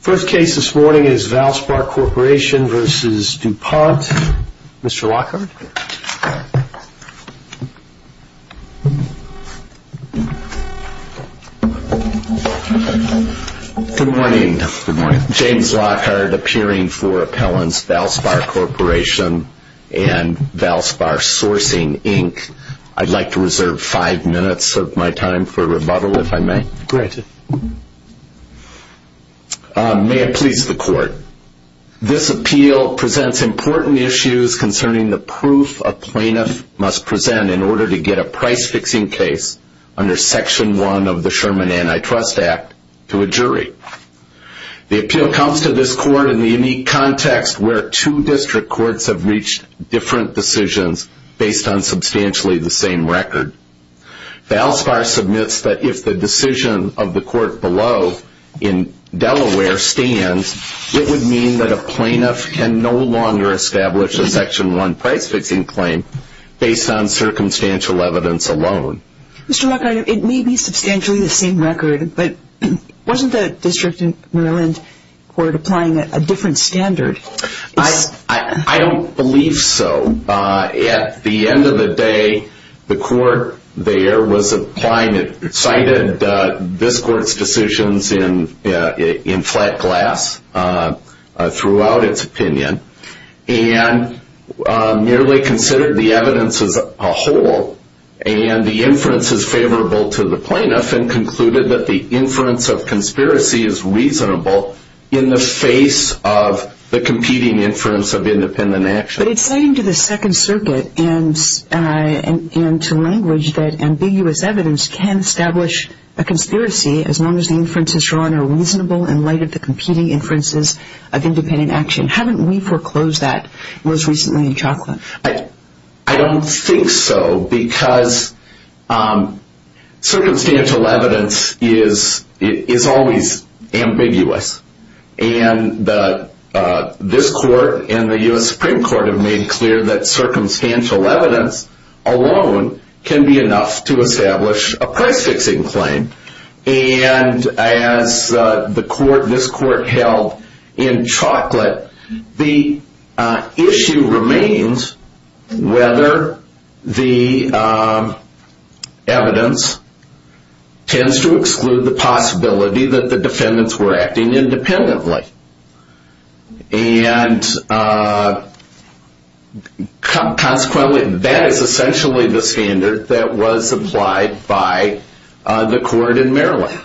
First case this morning is Valspar Corporation v. DuPont. Mr. Lockhart. Good morning. James Lockhart appearing for appellants Valspar Corporation and Valspar Sourcing, Inc. I'd like to reserve five minutes of my time for rebuttal if I may. Granted. May it please the court. This appeal presents important issues concerning the proof a plaintiff must present in order to get a price-fixing case under Section 1 of the Sherman Antitrust Act to a jury. The appeal comes to this court in the unique context where two district courts have reached different decisions based on substantially the same record. Valspar submits that if the decision of the court below in Delaware stands, it would mean that a plaintiff can no longer establish a Section 1 price-fixing claim based on circumstantial evidence alone. Mr. Lockhart, it may be substantially the same record, but wasn't the district in Maryland court applying a different standard? I don't believe so. At the end of the day, the court there cited this court's decisions in flat glass throughout its opinion and merely considered the evidence as a whole, and the inference is favorable to the plaintiff and concluded that the inference of conspiracy is reasonable in the face of the competing inference of independent action. But it's saying to the Second Circuit and to language that ambiguous evidence can establish a conspiracy as long as the inferences drawn are reasonable in light of the competing inferences of independent action. Haven't we foreclosed that most recently in Chocolate? I don't think so, because circumstantial evidence is always ambiguous, and this court and the U.S. Supreme Court have made clear that circumstantial evidence alone can be enough to establish a price-fixing claim. And as this court held in Chocolate, the issue remains whether the evidence tends to exclude the possibility that the defendants were acting independently. And consequently, that is essentially the standard that was applied by the court in Maryland.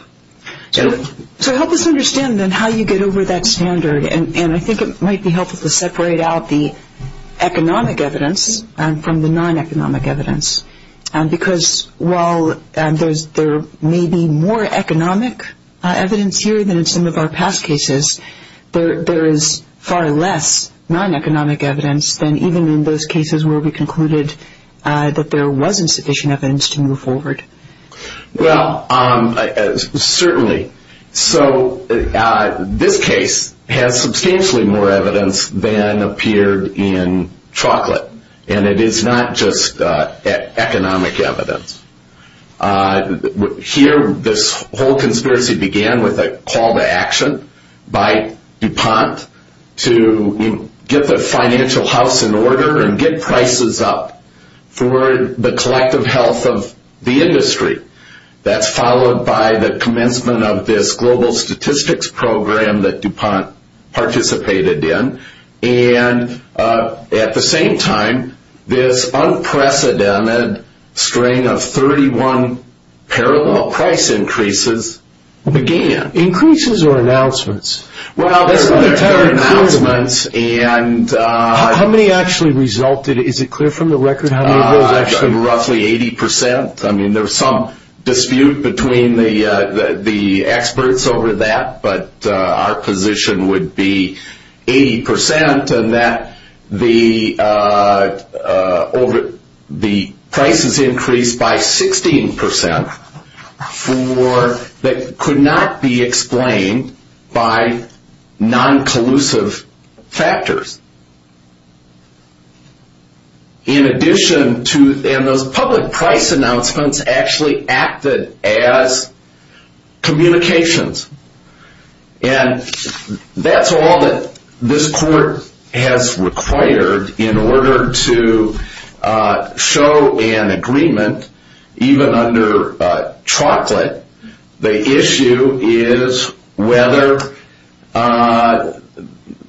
So help us understand then how you get over that standard, and I think it might be helpful to separate out the economic evidence from the non-economic evidence, because while there may be more economic evidence here than in some of our past cases, there is far less non-economic evidence than even in those cases where we concluded that there wasn't sufficient evidence to move forward. Well, certainly. So this case has substantially more evidence than appeared in Chocolate, and it is not just economic evidence. Here, this whole conspiracy began with a call to action by DuPont to get the financial house in order and get prices up for the collective health of the industry. That's followed by the commencement of this global statistics program that DuPont participated in, and at the same time, this unprecedented string of 31 parallel price increases began. Increases or announcements? Well, there were announcements. How many actually resulted? Is it clear from the record how many it was actually? Roughly 80%. I mean, there was some dispute between the experts over that, but our position would be 80%, and that the prices increased by 16% that could not be explained by non-collusive factors. In addition to, and those public price announcements actually acted as communications, and that's all that this court has required in order to show an agreement, even under Chocolate. The issue is whether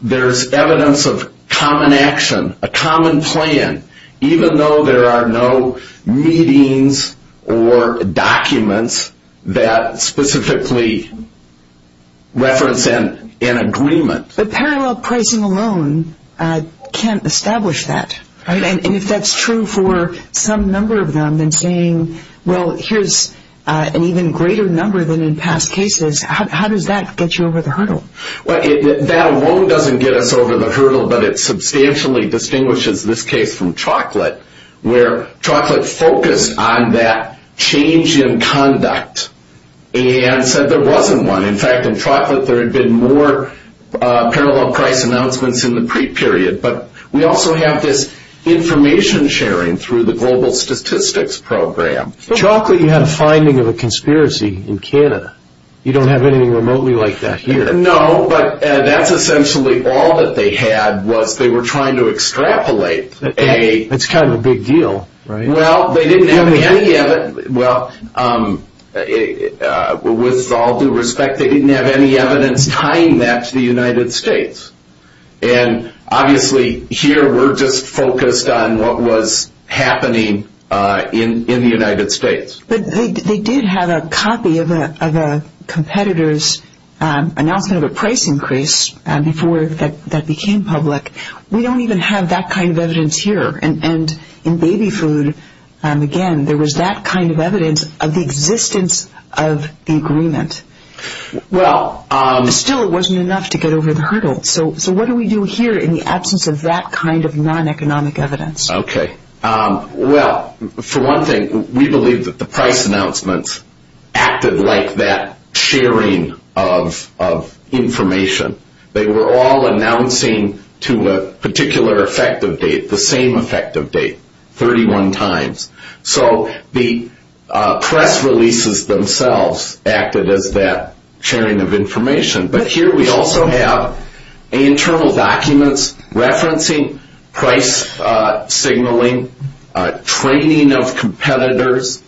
there's evidence of common action, a common plan, even though there are no meetings or documents that specifically reference an agreement. But parallel pricing alone can't establish that, right? And if that's true for some number of them in saying, well, here's an even greater number than in past cases, how does that get you over the hurdle? That alone doesn't get us over the hurdle, but it substantially distinguishes this case from Chocolate, where Chocolate focused on that change in conduct and said there wasn't one. In fact, in Chocolate, there had been more parallel price announcements in the pre-period, but we also have this information sharing through the global statistics program. Chocolate, you had a finding of a conspiracy in Canada. You don't have anything remotely like that here. No, but that's essentially all that they had was they were trying to extrapolate. That's kind of a big deal, right? Well, they didn't have any evidence. Well, with all due respect, they didn't have any evidence tying that to the United States. And obviously here we're just focused on what was happening in the United States. But they did have a copy of a competitor's announcement of a price increase before that became public. We don't even have that kind of evidence here. And in Baby Food, again, there was that kind of evidence of the existence of the agreement. Still, it wasn't enough to get over the hurdle. So what do we do here in the absence of that kind of non-economic evidence? Okay. Well, for one thing, we believe that the price announcements acted like that sharing of information. They were all announcing to a particular effective date, the same effective date, 31 times. So the press releases themselves acted as that sharing of information. But here we also have internal documents referencing price signaling, training of competitors,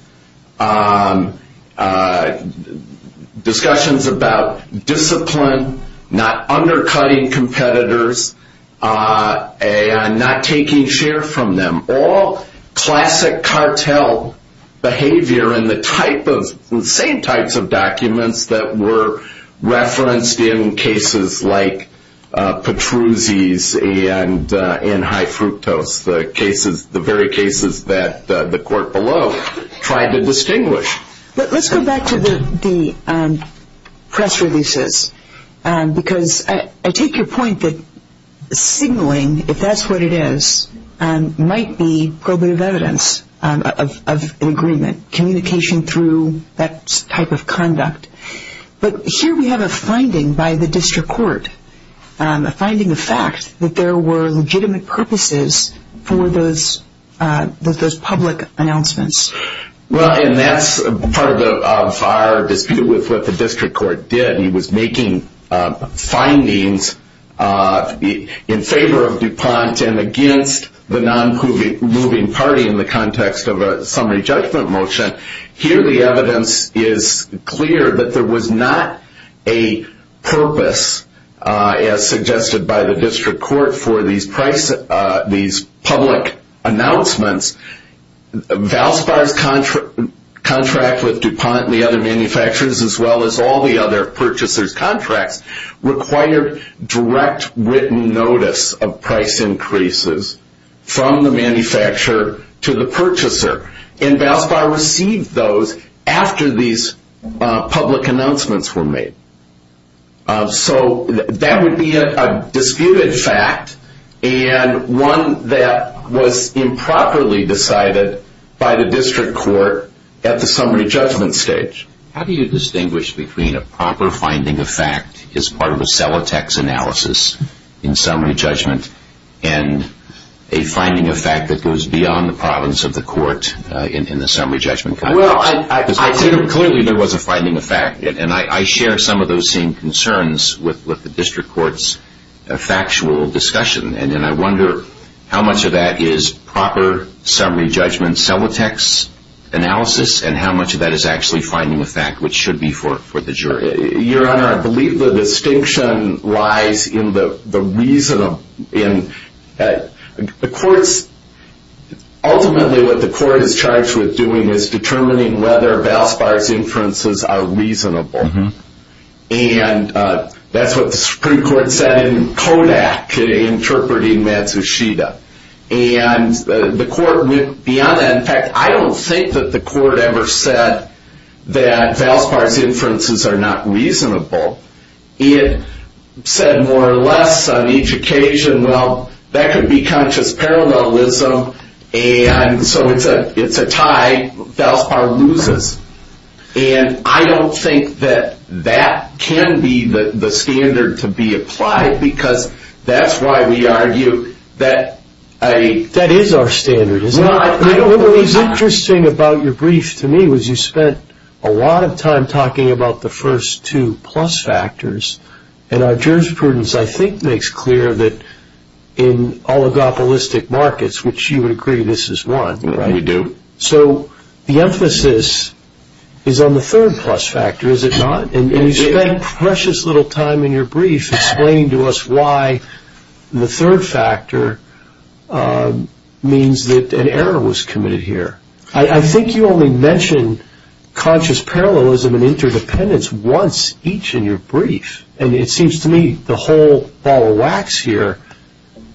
discussions about discipline, not undercutting competitors, and not taking share from them. All classic cartel behavior in the same types of documents that were referenced in cases like Petruzzi's and High Fructose, the very cases that the court below tried to distinguish. Let's go back to the press releases because I take your point that signaling, if that's what it is, might be probative evidence of an agreement, communication through that type of conduct. But here we have a finding by the district court, a finding of fact, that there were legitimate purposes for those public announcements. Well, and that's part of our dispute with what the district court did. He was making findings in favor of DuPont and against the non-moving party in the context of a summary judgment motion. Here the evidence is clear that there was not a purpose, as suggested by the district court, for these public announcements. Valspar's contract with DuPont and the other manufacturers, as well as all the other purchasers' contracts, required direct written notice of price increases from the manufacturer to the purchaser. And Valspar received those after these public announcements were made. So that would be a disputed fact and one that was improperly decided by the district court at the summary judgment stage. How do you distinguish between a proper finding of fact as part of a Celotex analysis in summary judgment and a finding of fact that goes beyond the province of the court in the summary judgment context? Well, clearly there was a finding of fact. And I share some of those same concerns with the district court's factual discussion. And I wonder how much of that is proper summary judgment Celotex analysis and how much of that is actually finding of fact, which should be for the jury. Your Honor, I believe the distinction lies in the reason of the courts. Ultimately, what the court is charged with doing is determining whether Valspar's inferences are reasonable. And that's what the Supreme Court said in Kodak in interpreting Matsushita. And the court went beyond that. In fact, I don't think that the court ever said that Valspar's inferences are not reasonable. It said more or less on each occasion, well, that could be conscious parallelism. And so it's a tie. Valspar loses. And I don't think that that can be the standard to be applied because that's why we argue that a... That is our standard, isn't it? What was interesting about your brief to me was you spent a lot of time talking about the first two plus factors. And our jurisprudence, I think, makes clear that in oligopolistic markets, which you would agree this is one. We do. So the emphasis is on the third plus factor, is it not? And you spent precious little time in your brief explaining to us why the third factor means that an error was committed here. I think you only mentioned conscious parallelism and interdependence once each in your brief. And it seems to me the whole ball of wax here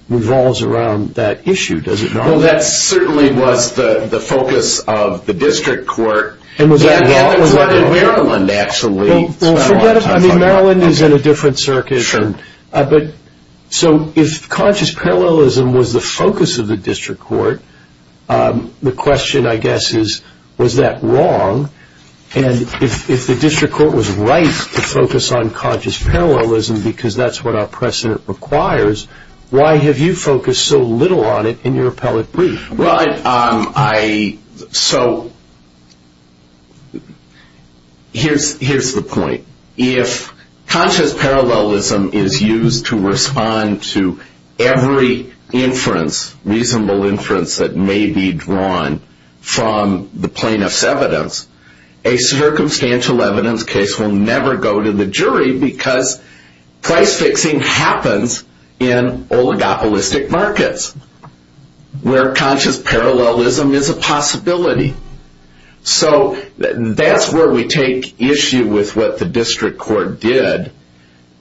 revolves around that issue, does it not? Well, that certainly was the focus of the district court. And was that wrong? It was in Maryland, actually. Well, forget it. I mean, Maryland is in a different circuit. Sure. So if conscious parallelism was the focus of the district court, the question, I guess, is was that wrong? And if the district court was right to focus on conscious parallelism because that's what our precedent requires, why have you focused so little on it in your appellate brief? So here's the point. If conscious parallelism is used to respond to every inference, reasonable inference, that may be drawn from the plaintiff's evidence, a circumstantial evidence case will never go to the jury because price fixing happens in oligopolistic markets where conscious parallelism is a possibility. So that's where we take issue with what the district court did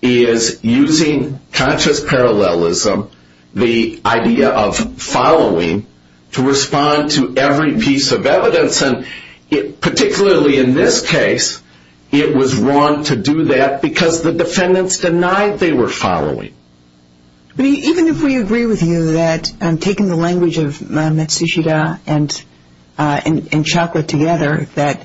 is using conscious parallelism, the idea of following, to respond to every piece of evidence. And particularly in this case, it was wrong to do that because the defendants denied they were following. Even if we agree with you that taking the language of Matsushita and Chalker together, that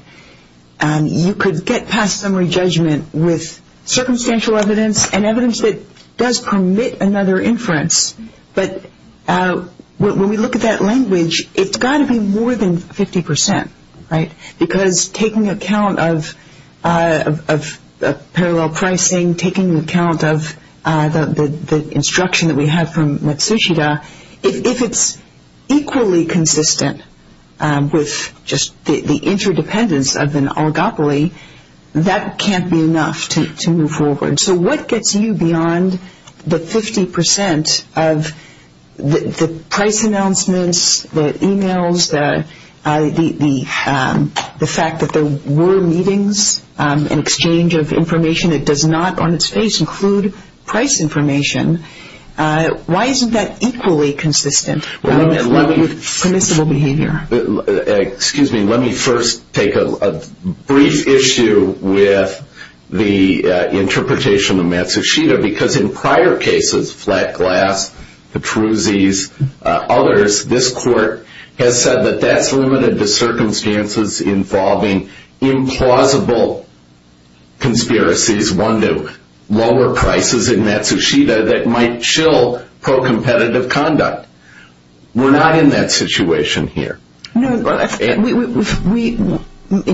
you could get past summary judgment with circumstantial evidence and evidence that does permit another inference. But when we look at that language, it's got to be more than 50 percent, right, because taking account of parallel pricing, taking account of the instruction that we have from Matsushita, if it's equally consistent with just the interdependence of an oligopoly, that can't be enough to move forward. So what gets you beyond the 50 percent of the price announcements, the e-mails, the fact that there were meetings and exchange of information that does not on its face include price information? Why isn't that equally consistent with permissible behavior? Excuse me, let me first take a brief issue with the interpretation of Matsushita, because in prior cases, Flat Glass, Petruzzi's, others, this court has said that that's limited to circumstances involving implausible conspiracies, one to lower prices in Matsushita that might shill pro-competitive conduct. We're not in that situation here. In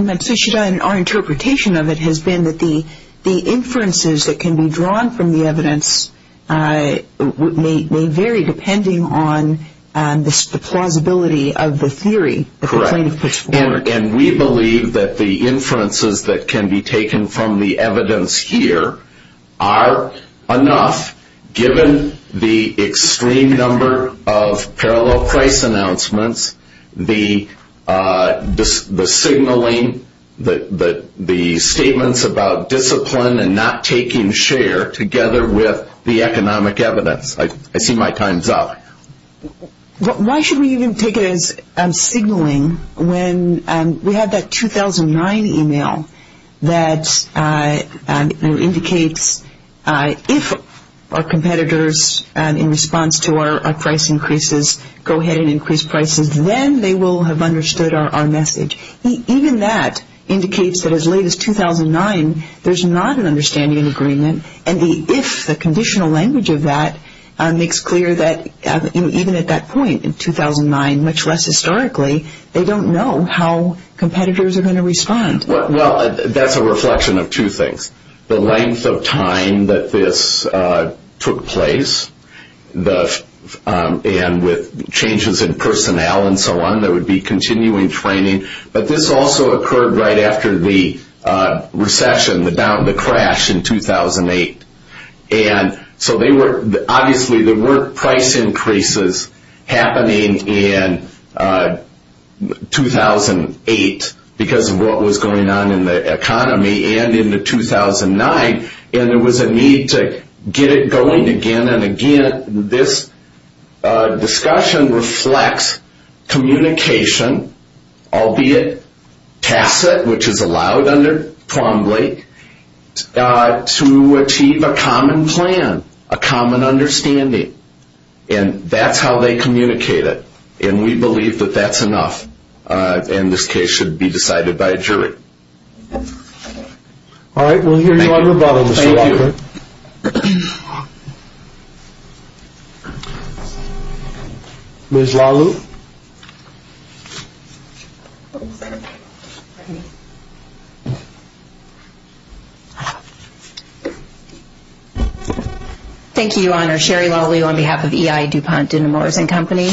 Matsushita, our interpretation of it has been that the inferences that can be drawn from the evidence may vary, depending on the plausibility of the theory that the plaintiff puts forward. And we believe that the inferences that can be taken from the evidence here are enough, given the extreme number of parallel price announcements, the signaling, the statements about discipline and not taking share together with the economic evidence. I see my time's up. Why should we even take it as signaling when we have that 2009 email that indicates if our competitors, in response to our price increases, go ahead and increase prices, then they will have understood our message. Even that indicates that as late as 2009, there's not an understanding and agreement, and if the conditional language of that makes clear that even at that point in 2009, much less historically, they don't know how competitors are going to respond. Well, that's a reflection of two things, the length of time that this took place, and with changes in personnel and so on, there would be continuing training. But this also occurred right after the recession, the crash in 2008. And so obviously there were price increases happening in 2008 because of what was going on in the economy, and in the 2009, and there was a need to get it going again and again. And this discussion reflects communication, albeit tacit, which is allowed under Plumbly, to achieve a common plan, a common understanding. And that's how they communicate it, and we believe that that's enough, and this case should be decided by a jury. All right, we'll hear you on rebuttal, Mr. Walker. Thank you. Ms. Lalue. Thank you, Your Honor. Sherry Lalue on behalf of EI DuPont Dinamores & Company.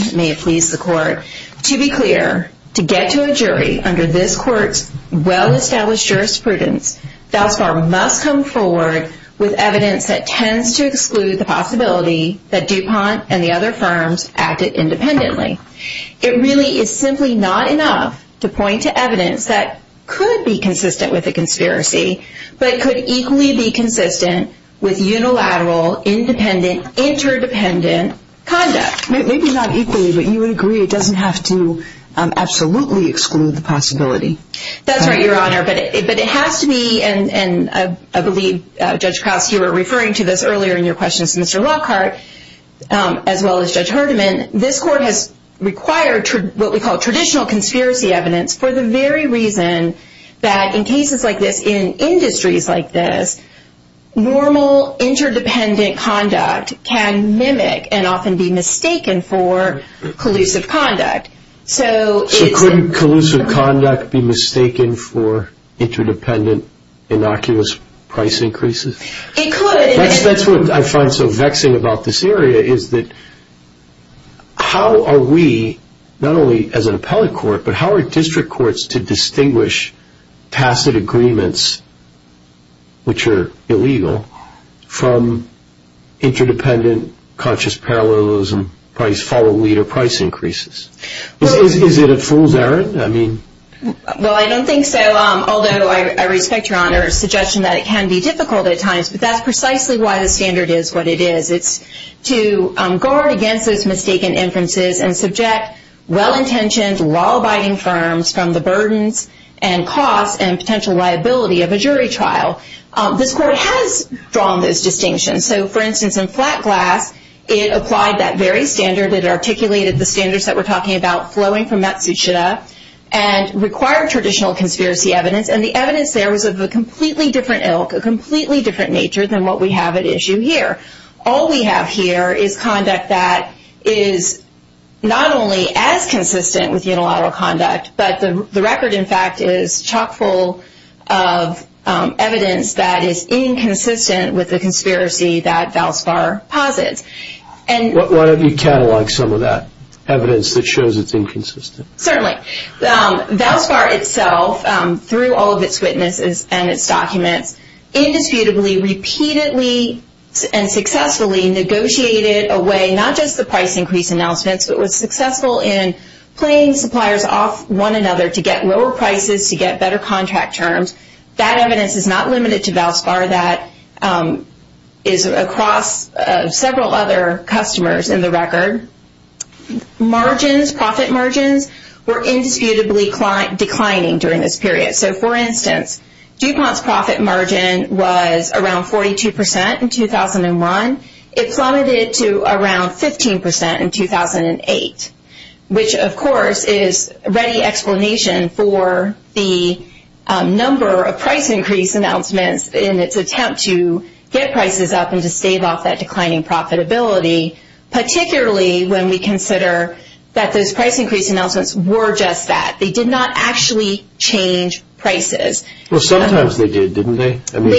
To be clear, to get to a jury under this court's well-established jurisprudence, thus far must come forward with evidence that tends to exclude the possibility that DuPont and the other firms acted independently. It really is simply not enough to point to evidence that could be consistent with a conspiracy, but could equally be consistent with unilateral, independent, interdependent conduct. Maybe not equally, but you would agree it doesn't have to absolutely exclude the possibility. That's right, Your Honor, but it has to be, and I believe Judge Krause, you were referring to this earlier in your questions, Mr. Lockhart, as well as Judge Herdiman, this court has required what we call traditional conspiracy evidence for the very reason that in cases like this, in industries like this, normal interdependent conduct can mimic and often be mistaken for collusive conduct. So couldn't collusive conduct be mistaken for interdependent, innocuous price increases? It could. That's what I find so vexing about this area is that how are we, not only as an appellate court, but how are district courts to distinguish tacit agreements, which are illegal, from interdependent, conscious parallelism, price-follow-leader price increases? Is it a fool's errand? Well, I don't think so, although I respect Your Honor's suggestion that it can be difficult at times, but that's precisely why the standard is what it is. It's to guard against those mistaken inferences and subject well-intentioned, law-abiding firms from the burdens and costs and potential liability of a jury trial. This court has drawn those distinctions. So, for instance, in Flat Glass, it applied that very standard. It articulated the standards that we're talking about flowing from Matsushita and required traditional conspiracy evidence, and the evidence there was of a completely different ilk, a completely different nature than what we have at issue here. All we have here is conduct that is not only as consistent with unilateral conduct, but the record, in fact, is chock-full of evidence that is inconsistent with the conspiracy that Valspar posits. Why don't you catalog some of that evidence that shows it's inconsistent? Certainly. Valspar itself, through all of its witnesses and its documents, indisputably, repeatedly, and successfully negotiated a way, not just the price increase announcements, but was successful in playing suppliers off one another to get lower prices, to get better contract terms. That evidence is not limited to Valspar. That is across several other customers in the record. Margins, profit margins, were indisputably declining during this period. For instance, DuPont's profit margin was around 42% in 2001. It plummeted to around 15% in 2008, which, of course, is a ready explanation for the number of price increase announcements in its attempt to get prices up and to stave off that declining profitability, particularly when we consider that those price increase announcements were just that. They did not actually change prices. Well, sometimes they did, didn't they? Certainly.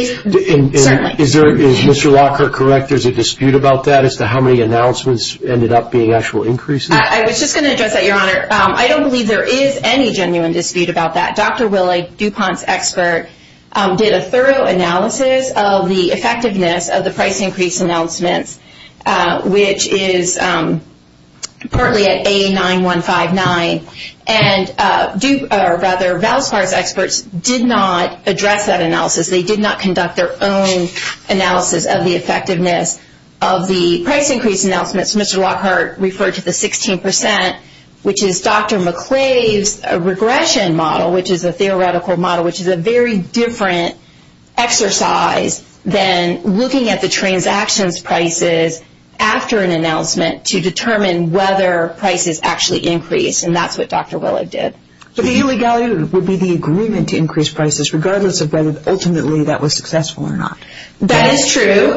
Is Mr. Walker correct? There's a dispute about that as to how many announcements ended up being actual increases? I was just going to address that, Your Honor. I don't believe there is any genuine dispute about that. Dr. Willie, DuPont's expert, did a thorough analysis of the effectiveness of the price increase announcements, which is partly at A9159. And rather, Valspar's experts did not address that analysis. They did not conduct their own analysis of the effectiveness of the price increase announcements. Mr. Lockhart referred to the 16%, which is Dr. McClave's regression model, which is a theoretical model, which is a very different exercise than looking at the transactions prices after an announcement to determine whether prices actually increase. And that's what Dr. Willie did. But the illegality would be the agreement to increase prices regardless of whether ultimately that was successful or not. That is true.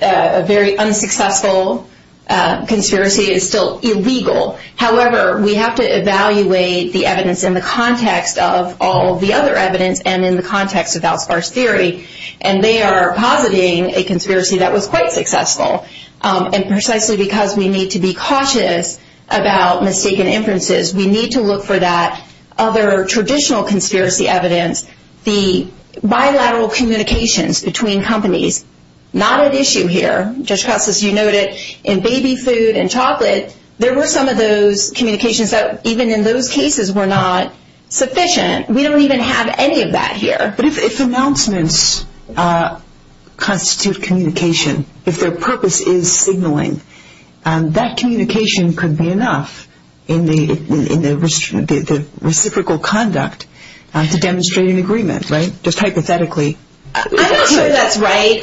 A very unsuccessful conspiracy is still illegal. However, we have to evaluate the evidence in the context of all the other evidence and in the context of Valspar's theory. And they are positing a conspiracy that was quite successful. And precisely because we need to be cautious about mistaken inferences, we need to look for that other traditional conspiracy evidence, the bilateral communications between companies. Not at issue here. Judge Krauss, as you noted, in baby food and chocolate, there were some of those communications that even in those cases were not sufficient. We don't even have any of that here. But if announcements constitute communication, if their purpose is signaling, that communication could be enough in the reciprocal conduct to demonstrate an agreement, right, just hypothetically. I'm not sure that's right.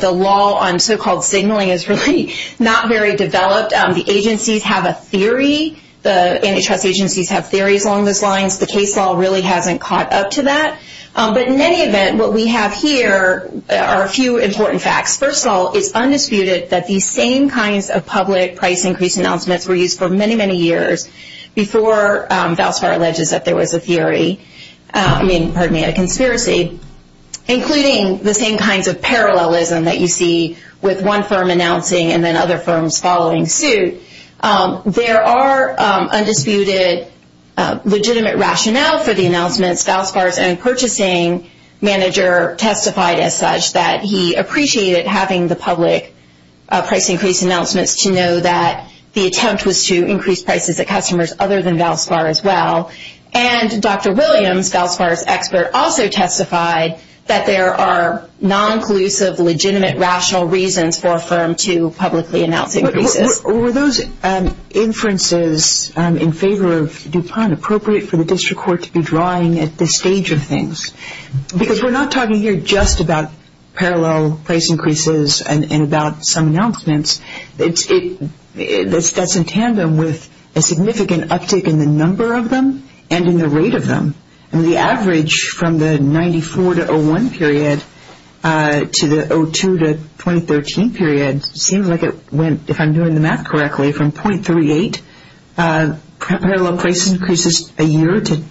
The law on so-called signaling is really not very developed. The agencies have a theory. The antitrust agencies have theories along those lines. The case law really hasn't caught up to that. But in any event, what we have here are a few important facts. First of all, it's undisputed that these same kinds of public price increase announcements were used for many, many years before Valspar alleges that there was a conspiracy, including the same kinds of parallelism that you see with one firm announcing and then other firms following suit. There are undisputed legitimate rationale for the announcements. Valspar's own purchasing manager testified as such that he appreciated having the public price increase announcements to know that the attempt was to increase prices at customers other than Valspar as well. And Dr. Williams, Valspar's expert, also testified that there are non-collusive, legitimate rational reasons for a firm to publicly announce increases. Were those inferences in favor of DuPont appropriate for the district court to be drawing at this stage of things? Because we're not talking here just about parallel price increases and about some announcements. That's in tandem with a significant uptick in the number of them and in the rate of them. The average from the 94 to 01 period to the 02 to 2013 period seems like it went, if I'm doing the math correctly, from .38 parallel price increases a year to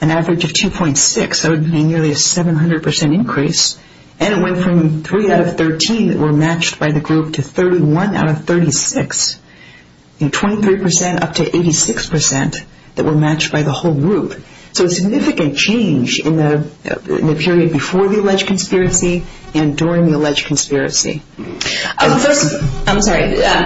an average of 2.6. That would be nearly a 700% increase. And it went from 3 out of 13 that were matched by the group to 31 out of 36, and 23% up to 86% that were matched by the whole group. So a significant change in the period before the alleged conspiracy and during the alleged conspiracy. I'm sorry.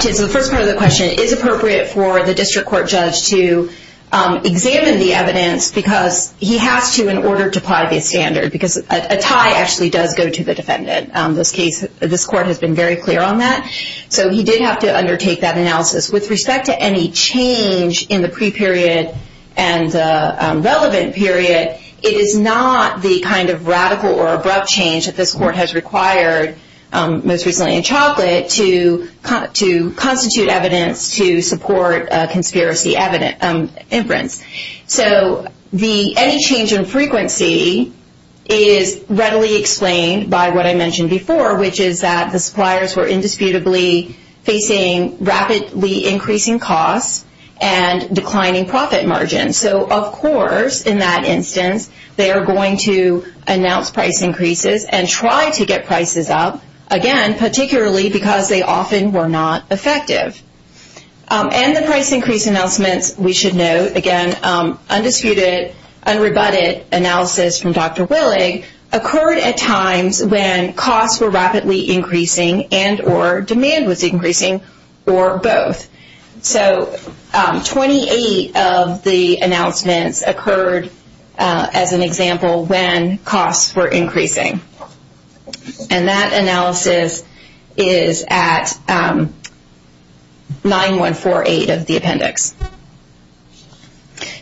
So the first part of the question, is it appropriate for the district court judge to examine the evidence because he has to in order to apply the standard because a tie actually does go to the defendant. This court has been very clear on that. So he did have to undertake that analysis. With respect to any change in the pre-period and the relevant period, it is not the kind of radical or abrupt change that this court has required, most recently in Chocolate, to constitute evidence to support a conspiracy inference. So any change in frequency is readily explained by what I mentioned before, which is that the suppliers were indisputably facing rapidly increasing costs and declining profit margins. So, of course, in that instance, they are going to announce price increases and try to get prices up, again, particularly because they often were not effective. And the price increase announcements, we should note, again, undisputed, unrebutted analysis from Dr. Willig, occurred at times when costs were rapidly increasing and or demand was increasing or both. So 28 of the announcements occurred, as an example, when costs were increasing. And that analysis is at 9148 of the appendix.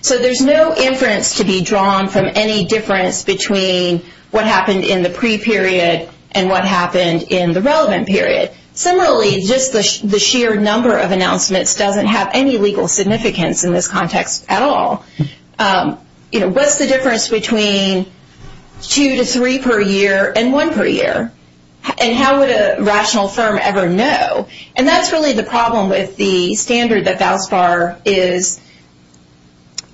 So there's no inference to be drawn from any difference between what happened in the pre-period and what happened in the relevant period. Similarly, just the sheer number of announcements doesn't have any legal significance in this context at all. What's the difference between two to three per year and one per year? And how would a rational firm ever know? And that's really the problem with the standard that VALSBAR is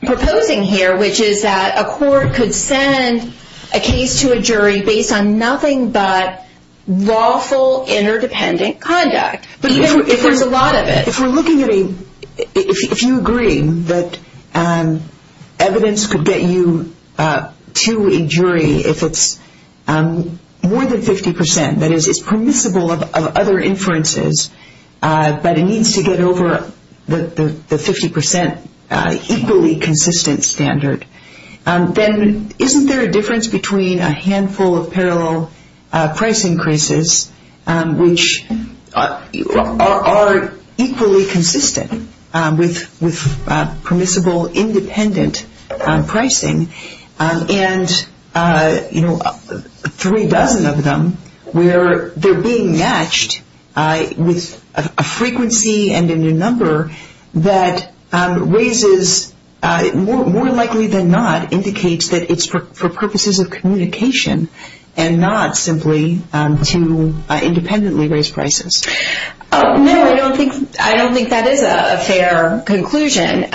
proposing here, which is that a court could send a case to a jury based on nothing but lawful interdependent conduct, even if there's a lot of it. If we're looking at a, if you agree that evidence could get you to a jury if it's more than 50 percent, that is, it's permissible of other inferences, but it needs to get over the 50 percent equally consistent standard, then isn't there a difference between a handful of parallel price increases, which are equally consistent with permissible independent pricing, and three dozen of them where they're being matched with a frequency and a number that raises, more likely than not, indicates that it's for purposes of communication and not simply to independently raise prices. No, I don't think that is a fair conclusion.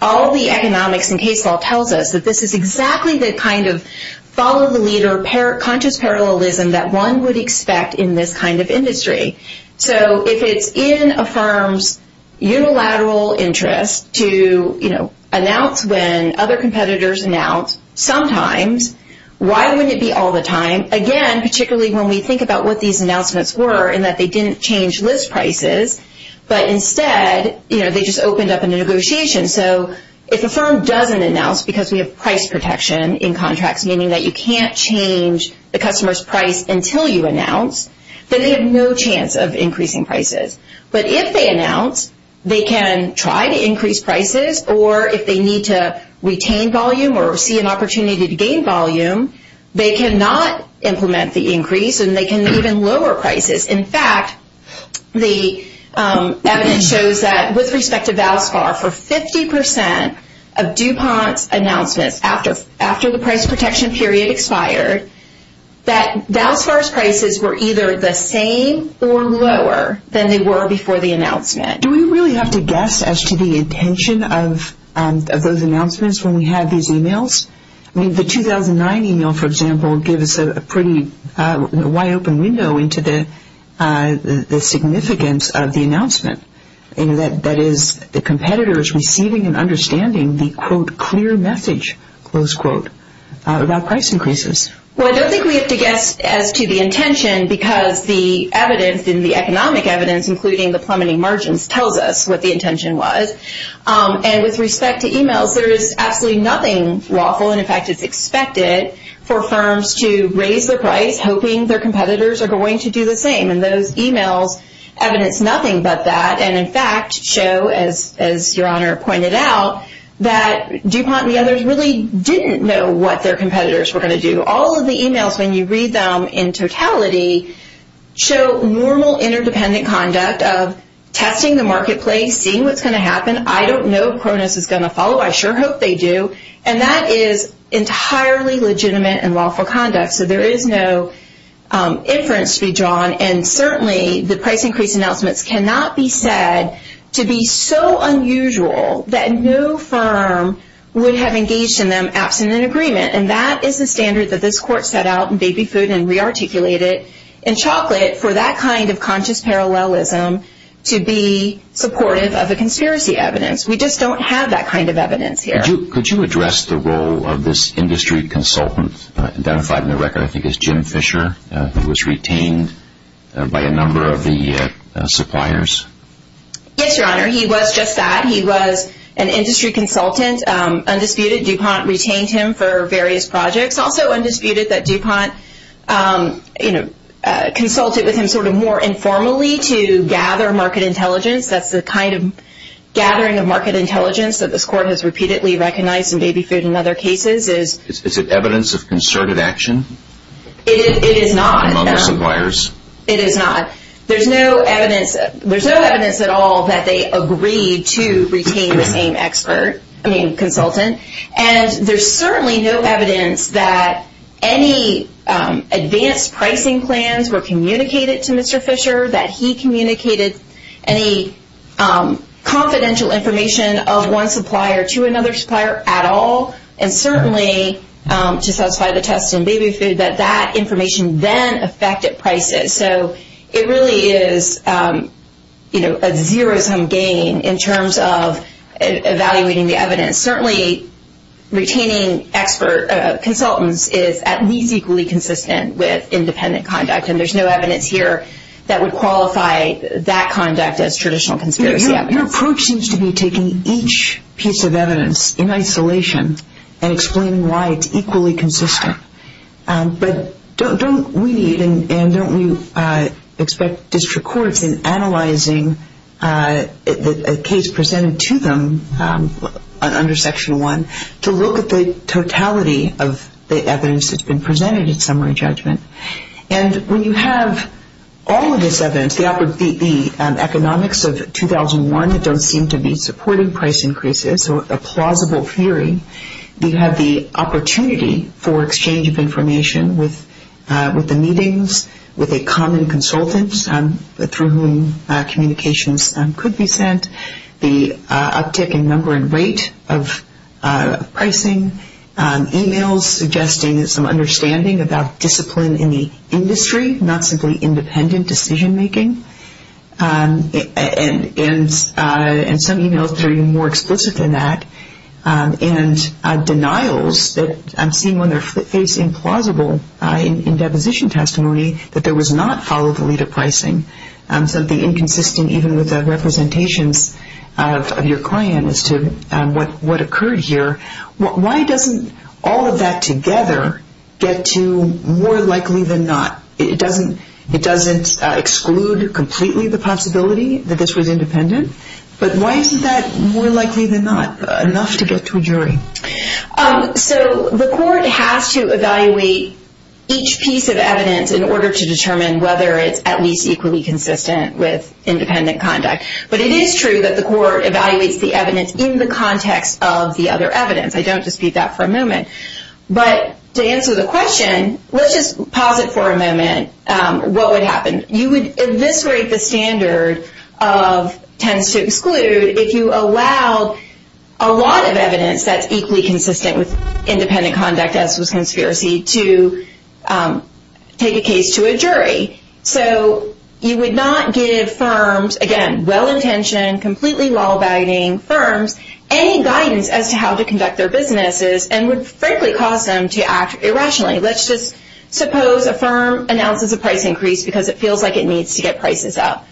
All the economics in case law tells us that this is exactly the kind of follow-the-leader, conscious parallelism that one would expect in this kind of industry. So if it's in a firm's unilateral interest to announce when other competitors announce sometimes, why wouldn't it be all the time? Again, particularly when we think about what these announcements were in that they didn't change list prices, but instead they just opened up a negotiation. So if a firm doesn't announce because we have price protection in contracts, meaning that you can't change the customer's price until you announce, then they have no chance of increasing prices. But if they announce, they can try to increase prices, or if they need to retain volume or see an opportunity to gain volume, they cannot implement the increase and they can even lower prices. In fact, the evidence shows that with respect to Valspar, for 50% of DuPont's announcements after the price protection period expired, that Valspar's prices were either the same or lower than they were before the announcement. Do we really have to guess as to the intention of those announcements when we have these emails? I mean, the 2009 email, for example, gives a pretty wide open window into the significance of the announcement, and that is the competitors receiving and understanding the, quote, clear message, close quote, about price increases. Well, I don't think we have to guess as to the intention because the evidence in the economic evidence, including the plummeting margins, tells us what the intention was. And with respect to emails, there is absolutely nothing lawful, and in fact it's expected for firms to raise their price hoping their competitors are going to do the same. And those emails evidence nothing but that, and in fact show, as Your Honor pointed out, that DuPont and the others really didn't know what their competitors were going to do. All of the emails, when you read them in totality, show normal interdependent conduct of testing the marketplace, seeing what's going to happen. I don't know if Cronus is going to follow. I sure hope they do, and that is entirely legitimate and lawful conduct, so there is no inference to be drawn. And certainly the price increase announcements cannot be said to be so unusual that no firm would have engaged in them absent an agreement, and that is the standard that this Court set out in Baby Food and re-articulated in Chocolate for that kind of conscious parallelism to be supportive of a conspiracy evidence. We just don't have that kind of evidence here. Could you address the role of this industry consultant identified in the record, I think it's Jim Fisher, who was retained by a number of the suppliers? Yes, Your Honor, he was just that. He was an industry consultant, undisputed. DuPont retained him for various projects. Also undisputed that DuPont consulted with him sort of more informally to gather market intelligence. That's the kind of gathering of market intelligence that this Court has repeatedly recognized in Baby Food and other cases. Is it evidence of concerted action? It is not. Among the suppliers? It is not. There's no evidence at all that they agreed to retain the same expert, I mean consultant, and there's certainly no evidence that any advanced pricing plans were communicated to Mr. Fisher, that he communicated any confidential information of one supplier to another supplier at all, and certainly to satisfy the test in Baby Food that that information then affected prices. So it really is a zero-sum game in terms of evaluating the evidence. Certainly retaining expert consultants is at least equally consistent with independent conduct, and there's no evidence here that would qualify that conduct as traditional conspiracy evidence. Your approach seems to be taking each piece of evidence in isolation and explaining why it's equally consistent. But don't we need and don't we expect district courts in analyzing a case presented to them under Section 1 to look at the totality of the evidence that's been presented in summary judgment? And when you have all of this evidence, the economics of 2001 don't seem to be supporting price increases, so a plausible theory, you have the opportunity for exchange of information with the meetings, with a common consultant through whom communications could be sent, the uptick in number and rate of pricing, emails suggesting some understanding about discipline in the industry, not simply independent decision-making, and some emails that are even more explicit than that, and denials that I'm seeing when they're facing plausible in deposition testimony that there was not follow-the-leader pricing, something inconsistent even with the representations of your client as to what occurred here. Why doesn't all of that together get to more likely than not? It doesn't exclude completely the possibility that this was independent, but why isn't that more likely than not enough to get to a jury? So the court has to evaluate each piece of evidence in order to determine whether it's at least equally consistent with independent conduct. But it is true that the court evaluates the evidence in the context of the other evidence. I don't dispute that for a moment. But to answer the question, let's just pause it for a moment. What would happen? You would eviscerate the standard of tends to exclude if you allowed a lot of evidence that's equally consistent with independent conduct as was conspiracy to take a case to a jury. So you would not give firms, again, well-intentioned, completely law-abiding firms, any guidance as to how to conduct their businesses and would, frankly, cause them to act irrationally. Let's just suppose a firm announces a price increase because it feels like it needs to get prices up.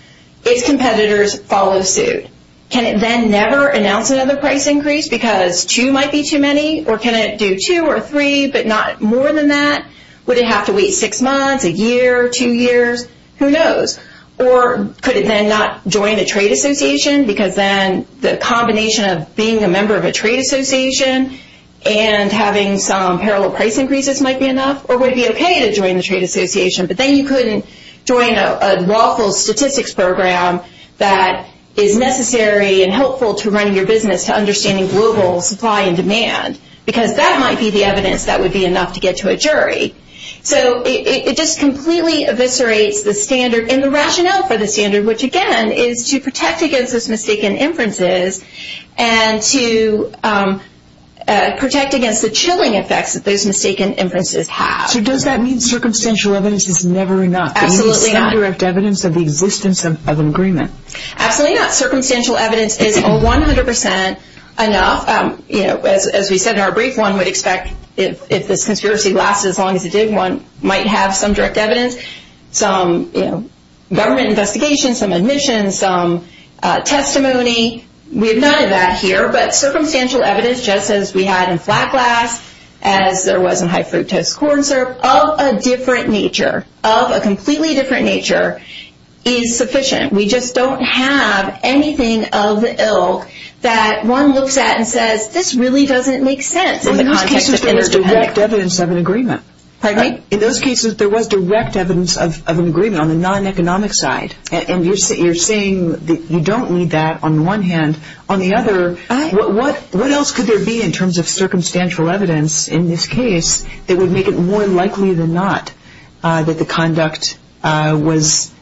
Its competitors follow suit. Can it then never announce another price increase because two might be too many? Or can it do two or three but not more than that? Would it have to wait six months, a year, two years? Who knows? Or could it then not join a trade association because then the combination of being a member of a trade association and having some parallel price increases might be enough? Or would it be okay to join the trade association but then you couldn't join a lawful statistics program that is necessary and helpful to running your business to understanding global supply and demand? Because that might be the evidence that would be enough to get to a jury. So it just completely eviscerates the standard and the rationale for the standard, which, again, is to protect against those mistaken inferences and to protect against the chilling effects that those mistaken inferences have. So does that mean circumstantial evidence is never enough? Absolutely not. Is this indirect evidence of the existence of an agreement? Absolutely not. Circumstantial evidence is 100% enough. As we said in our brief, one would expect if this conspiracy lasted as long as it did, one might have some direct evidence, some government investigations, some admissions, some testimony. We have none of that here. But circumstantial evidence, just as we had in flat glass, as there was in high fructose corn syrup, of a different nature, of a completely different nature, is sufficient. We just don't have anything of the ilk that one looks at and says, this really doesn't make sense in the context of interdependence. Well, in those cases, there was direct evidence of an agreement. Pardon me? In those cases, there was direct evidence of an agreement on the non-economic side. And you're saying that you don't need that on one hand. On the other, what else could there be in terms of circumstantial evidence in this case that would make it more likely than not that the conduct was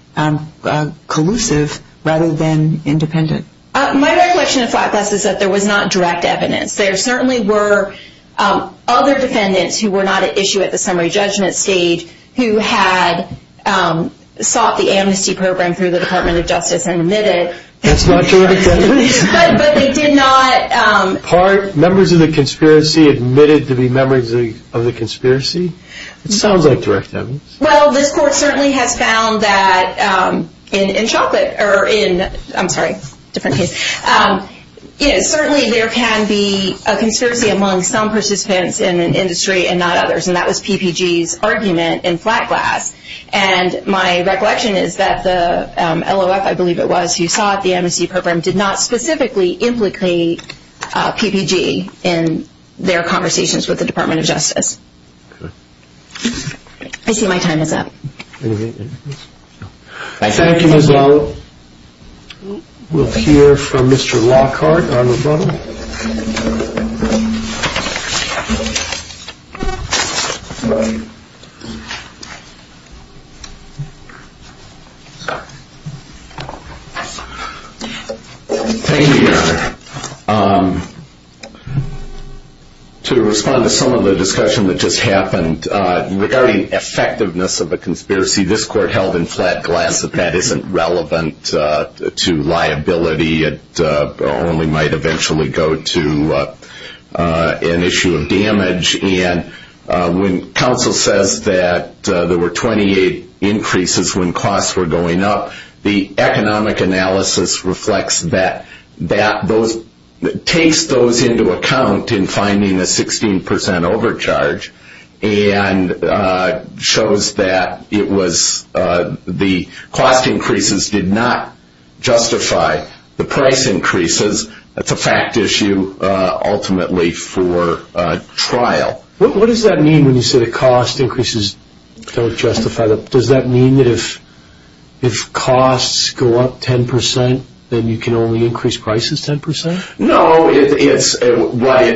collusive rather than independent? My recollection of flat glass is that there was not direct evidence. There certainly were other defendants who were not at issue at the summary judgment stage who had sought the amnesty program through the Department of Justice and admitted. That's not direct evidence. But they did not. Members of the conspiracy admitted to be members of the conspiracy? It sounds like direct evidence. Well, this court certainly has found that in Chocolate, or in, I'm sorry, different case, certainly there can be a conspiracy among some participants in an industry and not others. And that was PPG's argument in flat glass. And my recollection is that the LOF, I believe it was, as you saw at the amnesty program, did not specifically implicate PPG in their conversations with the Department of Justice. I see my time is up. Thank you, Ms. Lowell. We'll hear from Mr. Lockhart on rebuttal. Thank you, Your Honor. To respond to some of the discussion that just happened, regarding effectiveness of a conspiracy, this court held in flat glass that that isn't relevant to liability. It only might eventually go to an issue of damage. And when counsel says that there were 28 increases when costs were going up, the economic analysis reflects that, takes those into account in finding a 16% overcharge and shows that the cost increases did not justify the price increases. That's a fact issue ultimately for trial. What does that mean when you say the cost increases don't justify? Does that mean that if costs go up 10%, then you can only increase prices 10%? No, it's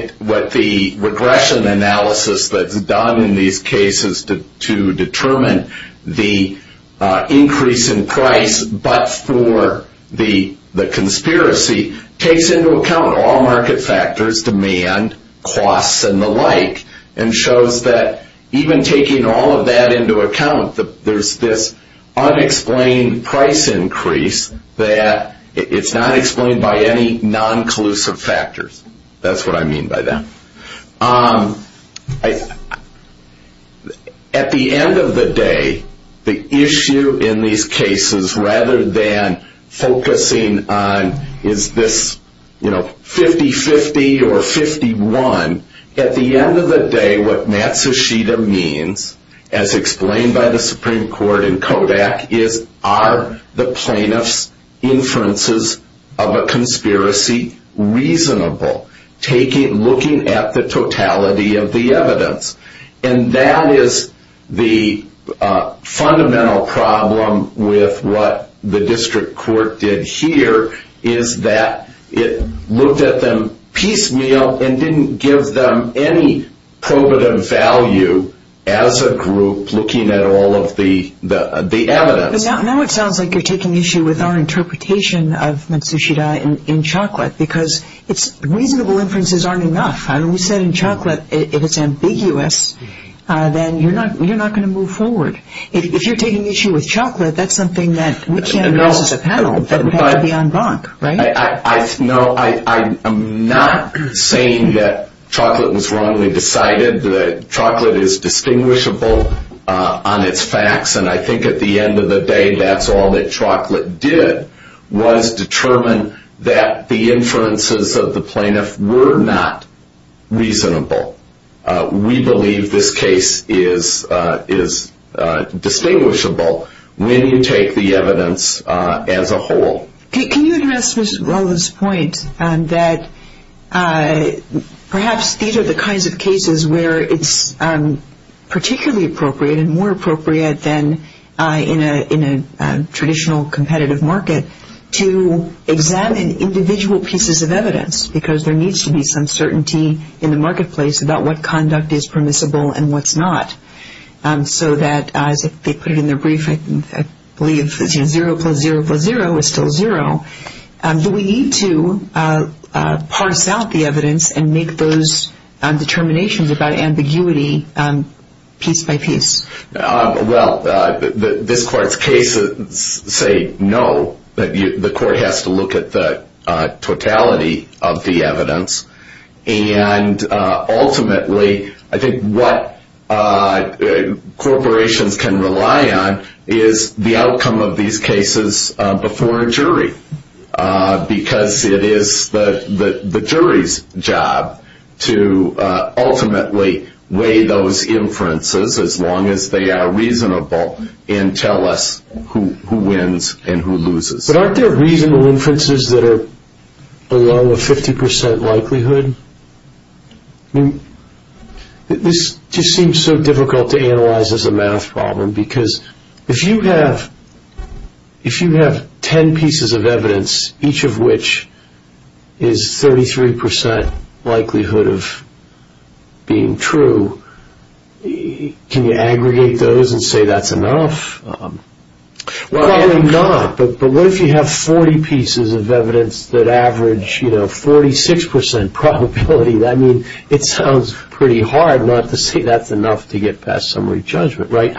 what the regression analysis that's done in these cases to determine the increase in price, but for the conspiracy, takes into account all market factors, demand, costs, and the like, and shows that even taking all of that into account, there's this unexplained price increase that it's not explained by any non-collusive factors. That's what I mean by that. At the end of the day, the issue in these cases, rather than focusing on is this 50-50 or 51, at the end of the day, what Matsushita means, as explained by the Supreme Court in Kodak, is are the plaintiff's inferences of a conspiracy reasonable? Looking at the totality of the evidence. And that is the fundamental problem with what the district court did here, is that it looked at them piecemeal and didn't give them any probative value as a group looking at all of the evidence. Now it sounds like you're taking issue with our interpretation of Matsushita in Chocolate, because reasonable inferences aren't enough. We said in Chocolate, if it's ambiguous, then you're not going to move forward. If you're taking issue with Chocolate, that's something that we can't address as a panel. That would have to be en banc, right? No, I'm not saying that Chocolate was wrongly decided. Chocolate is distinguishable on its facts, and I think at the end of the day, that's all that Chocolate did was determine that the inferences of the plaintiff were not reasonable. We believe this case is distinguishable when you take the evidence as a whole. Can you address Ms. Rollins' point that perhaps these are the kinds of cases where it's particularly appropriate and more appropriate than in a traditional competitive market to examine individual pieces of evidence, because there needs to be some certainty in the marketplace about what conduct is permissible and what's not, so that as they put it in their brief, I believe zero plus zero plus zero is still zero. Do we need to parse out the evidence and make those determinations about ambiguity piece by piece? Well, this court's cases say no. The court has to look at the totality of the evidence, and ultimately I think what corporations can rely on is the outcome of these cases before a jury, because it is the jury's job to ultimately weigh those inferences as long as they are reasonable and tell us who wins and who loses. But aren't there reasonable inferences that are along a 50% likelihood? This just seems so difficult to analyze as a math problem, because if you have ten pieces of evidence, each of which is 33% likelihood of being true, can you aggregate those and say that's enough? Probably not, but what if you have 40 pieces of evidence that average 46% probability? I mean, it sounds pretty hard not to say that's enough to get past summary judgment, right?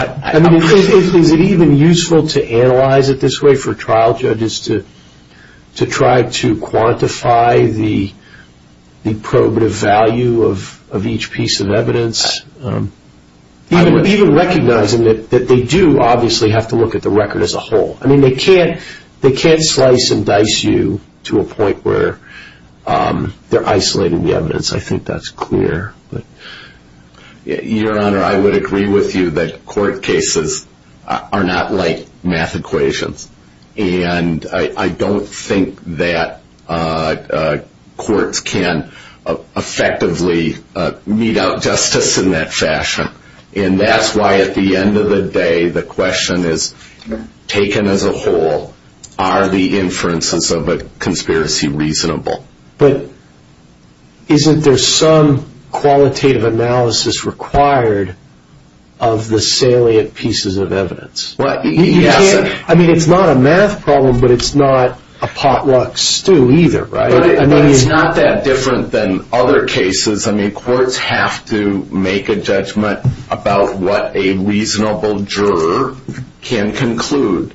Is it even useful to analyze it this way for trial judges to try to quantify the probative value of each piece of evidence? Even recognizing that they do obviously have to look at the record as a whole. I mean, they can't slice and dice you to a point where they're isolating the evidence. I think that's clear. Your Honor, I would agree with you that court cases are not like math equations, and I don't think that courts can effectively mete out justice in that fashion. And that's why at the end of the day, the question is, taken as a whole, are the inferences of a conspiracy reasonable? But isn't there some qualitative analysis required of the salient pieces of evidence? I mean, it's not a math problem, but it's not a potluck stew either, right? But it's not that different than other cases. I mean, courts have to make a judgment about what a reasonable juror can conclude,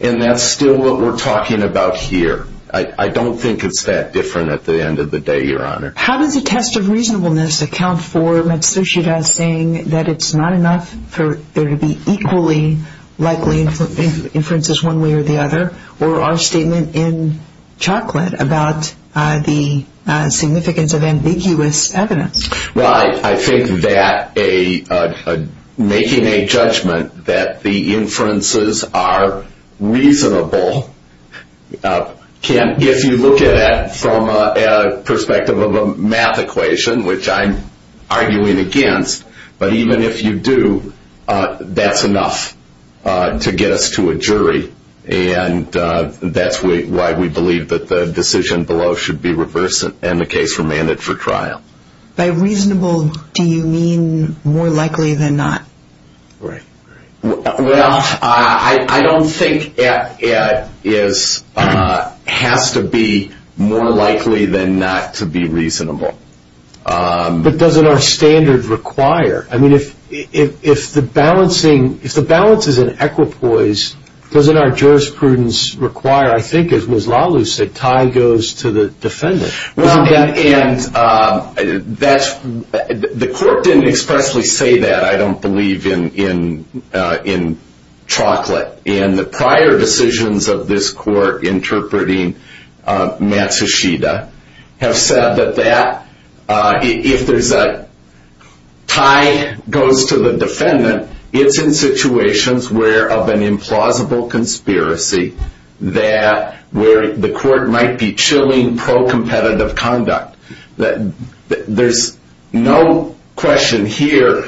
and that's still what we're talking about here. I don't think it's that different at the end of the day, Your Honor. How does a test of reasonableness account for Matsushita saying that it's not enough for there to be equally likely inferences one way or the other, or our statement in Chocolate about the significance of ambiguous evidence? Well, I think that making a judgment that the inferences are reasonable, if you look at it from a perspective of a math equation, which I'm arguing against, but even if you do, that's enough to get us to a jury. And that's why we believe that the decision below should be reversed and the case remanded for trial. By reasonable, do you mean more likely than not? Right. Well, I don't think it has to be more likely than not to be reasonable. But doesn't our standard require? I mean, if the balance is an equipoise, doesn't our jurisprudence require, I think as Ms. Lalu said, tie goes to the defendant? Well, and the court didn't expressly say that, I don't believe, in Chocolate. And the prior decisions of this court interpreting Matsushita have said that if there's a tie goes to the defendant, it's in situations where of an implausible conspiracy that where the court might be chilling pro-competitive conduct. There's no question here.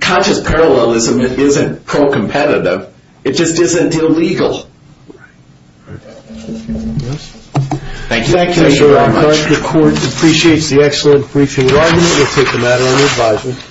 Conscious parallelism isn't pro-competitive. It just isn't illegal. Thank you. Thank you very much. The court appreciates the excellent briefing. We'll take a matter under advisement.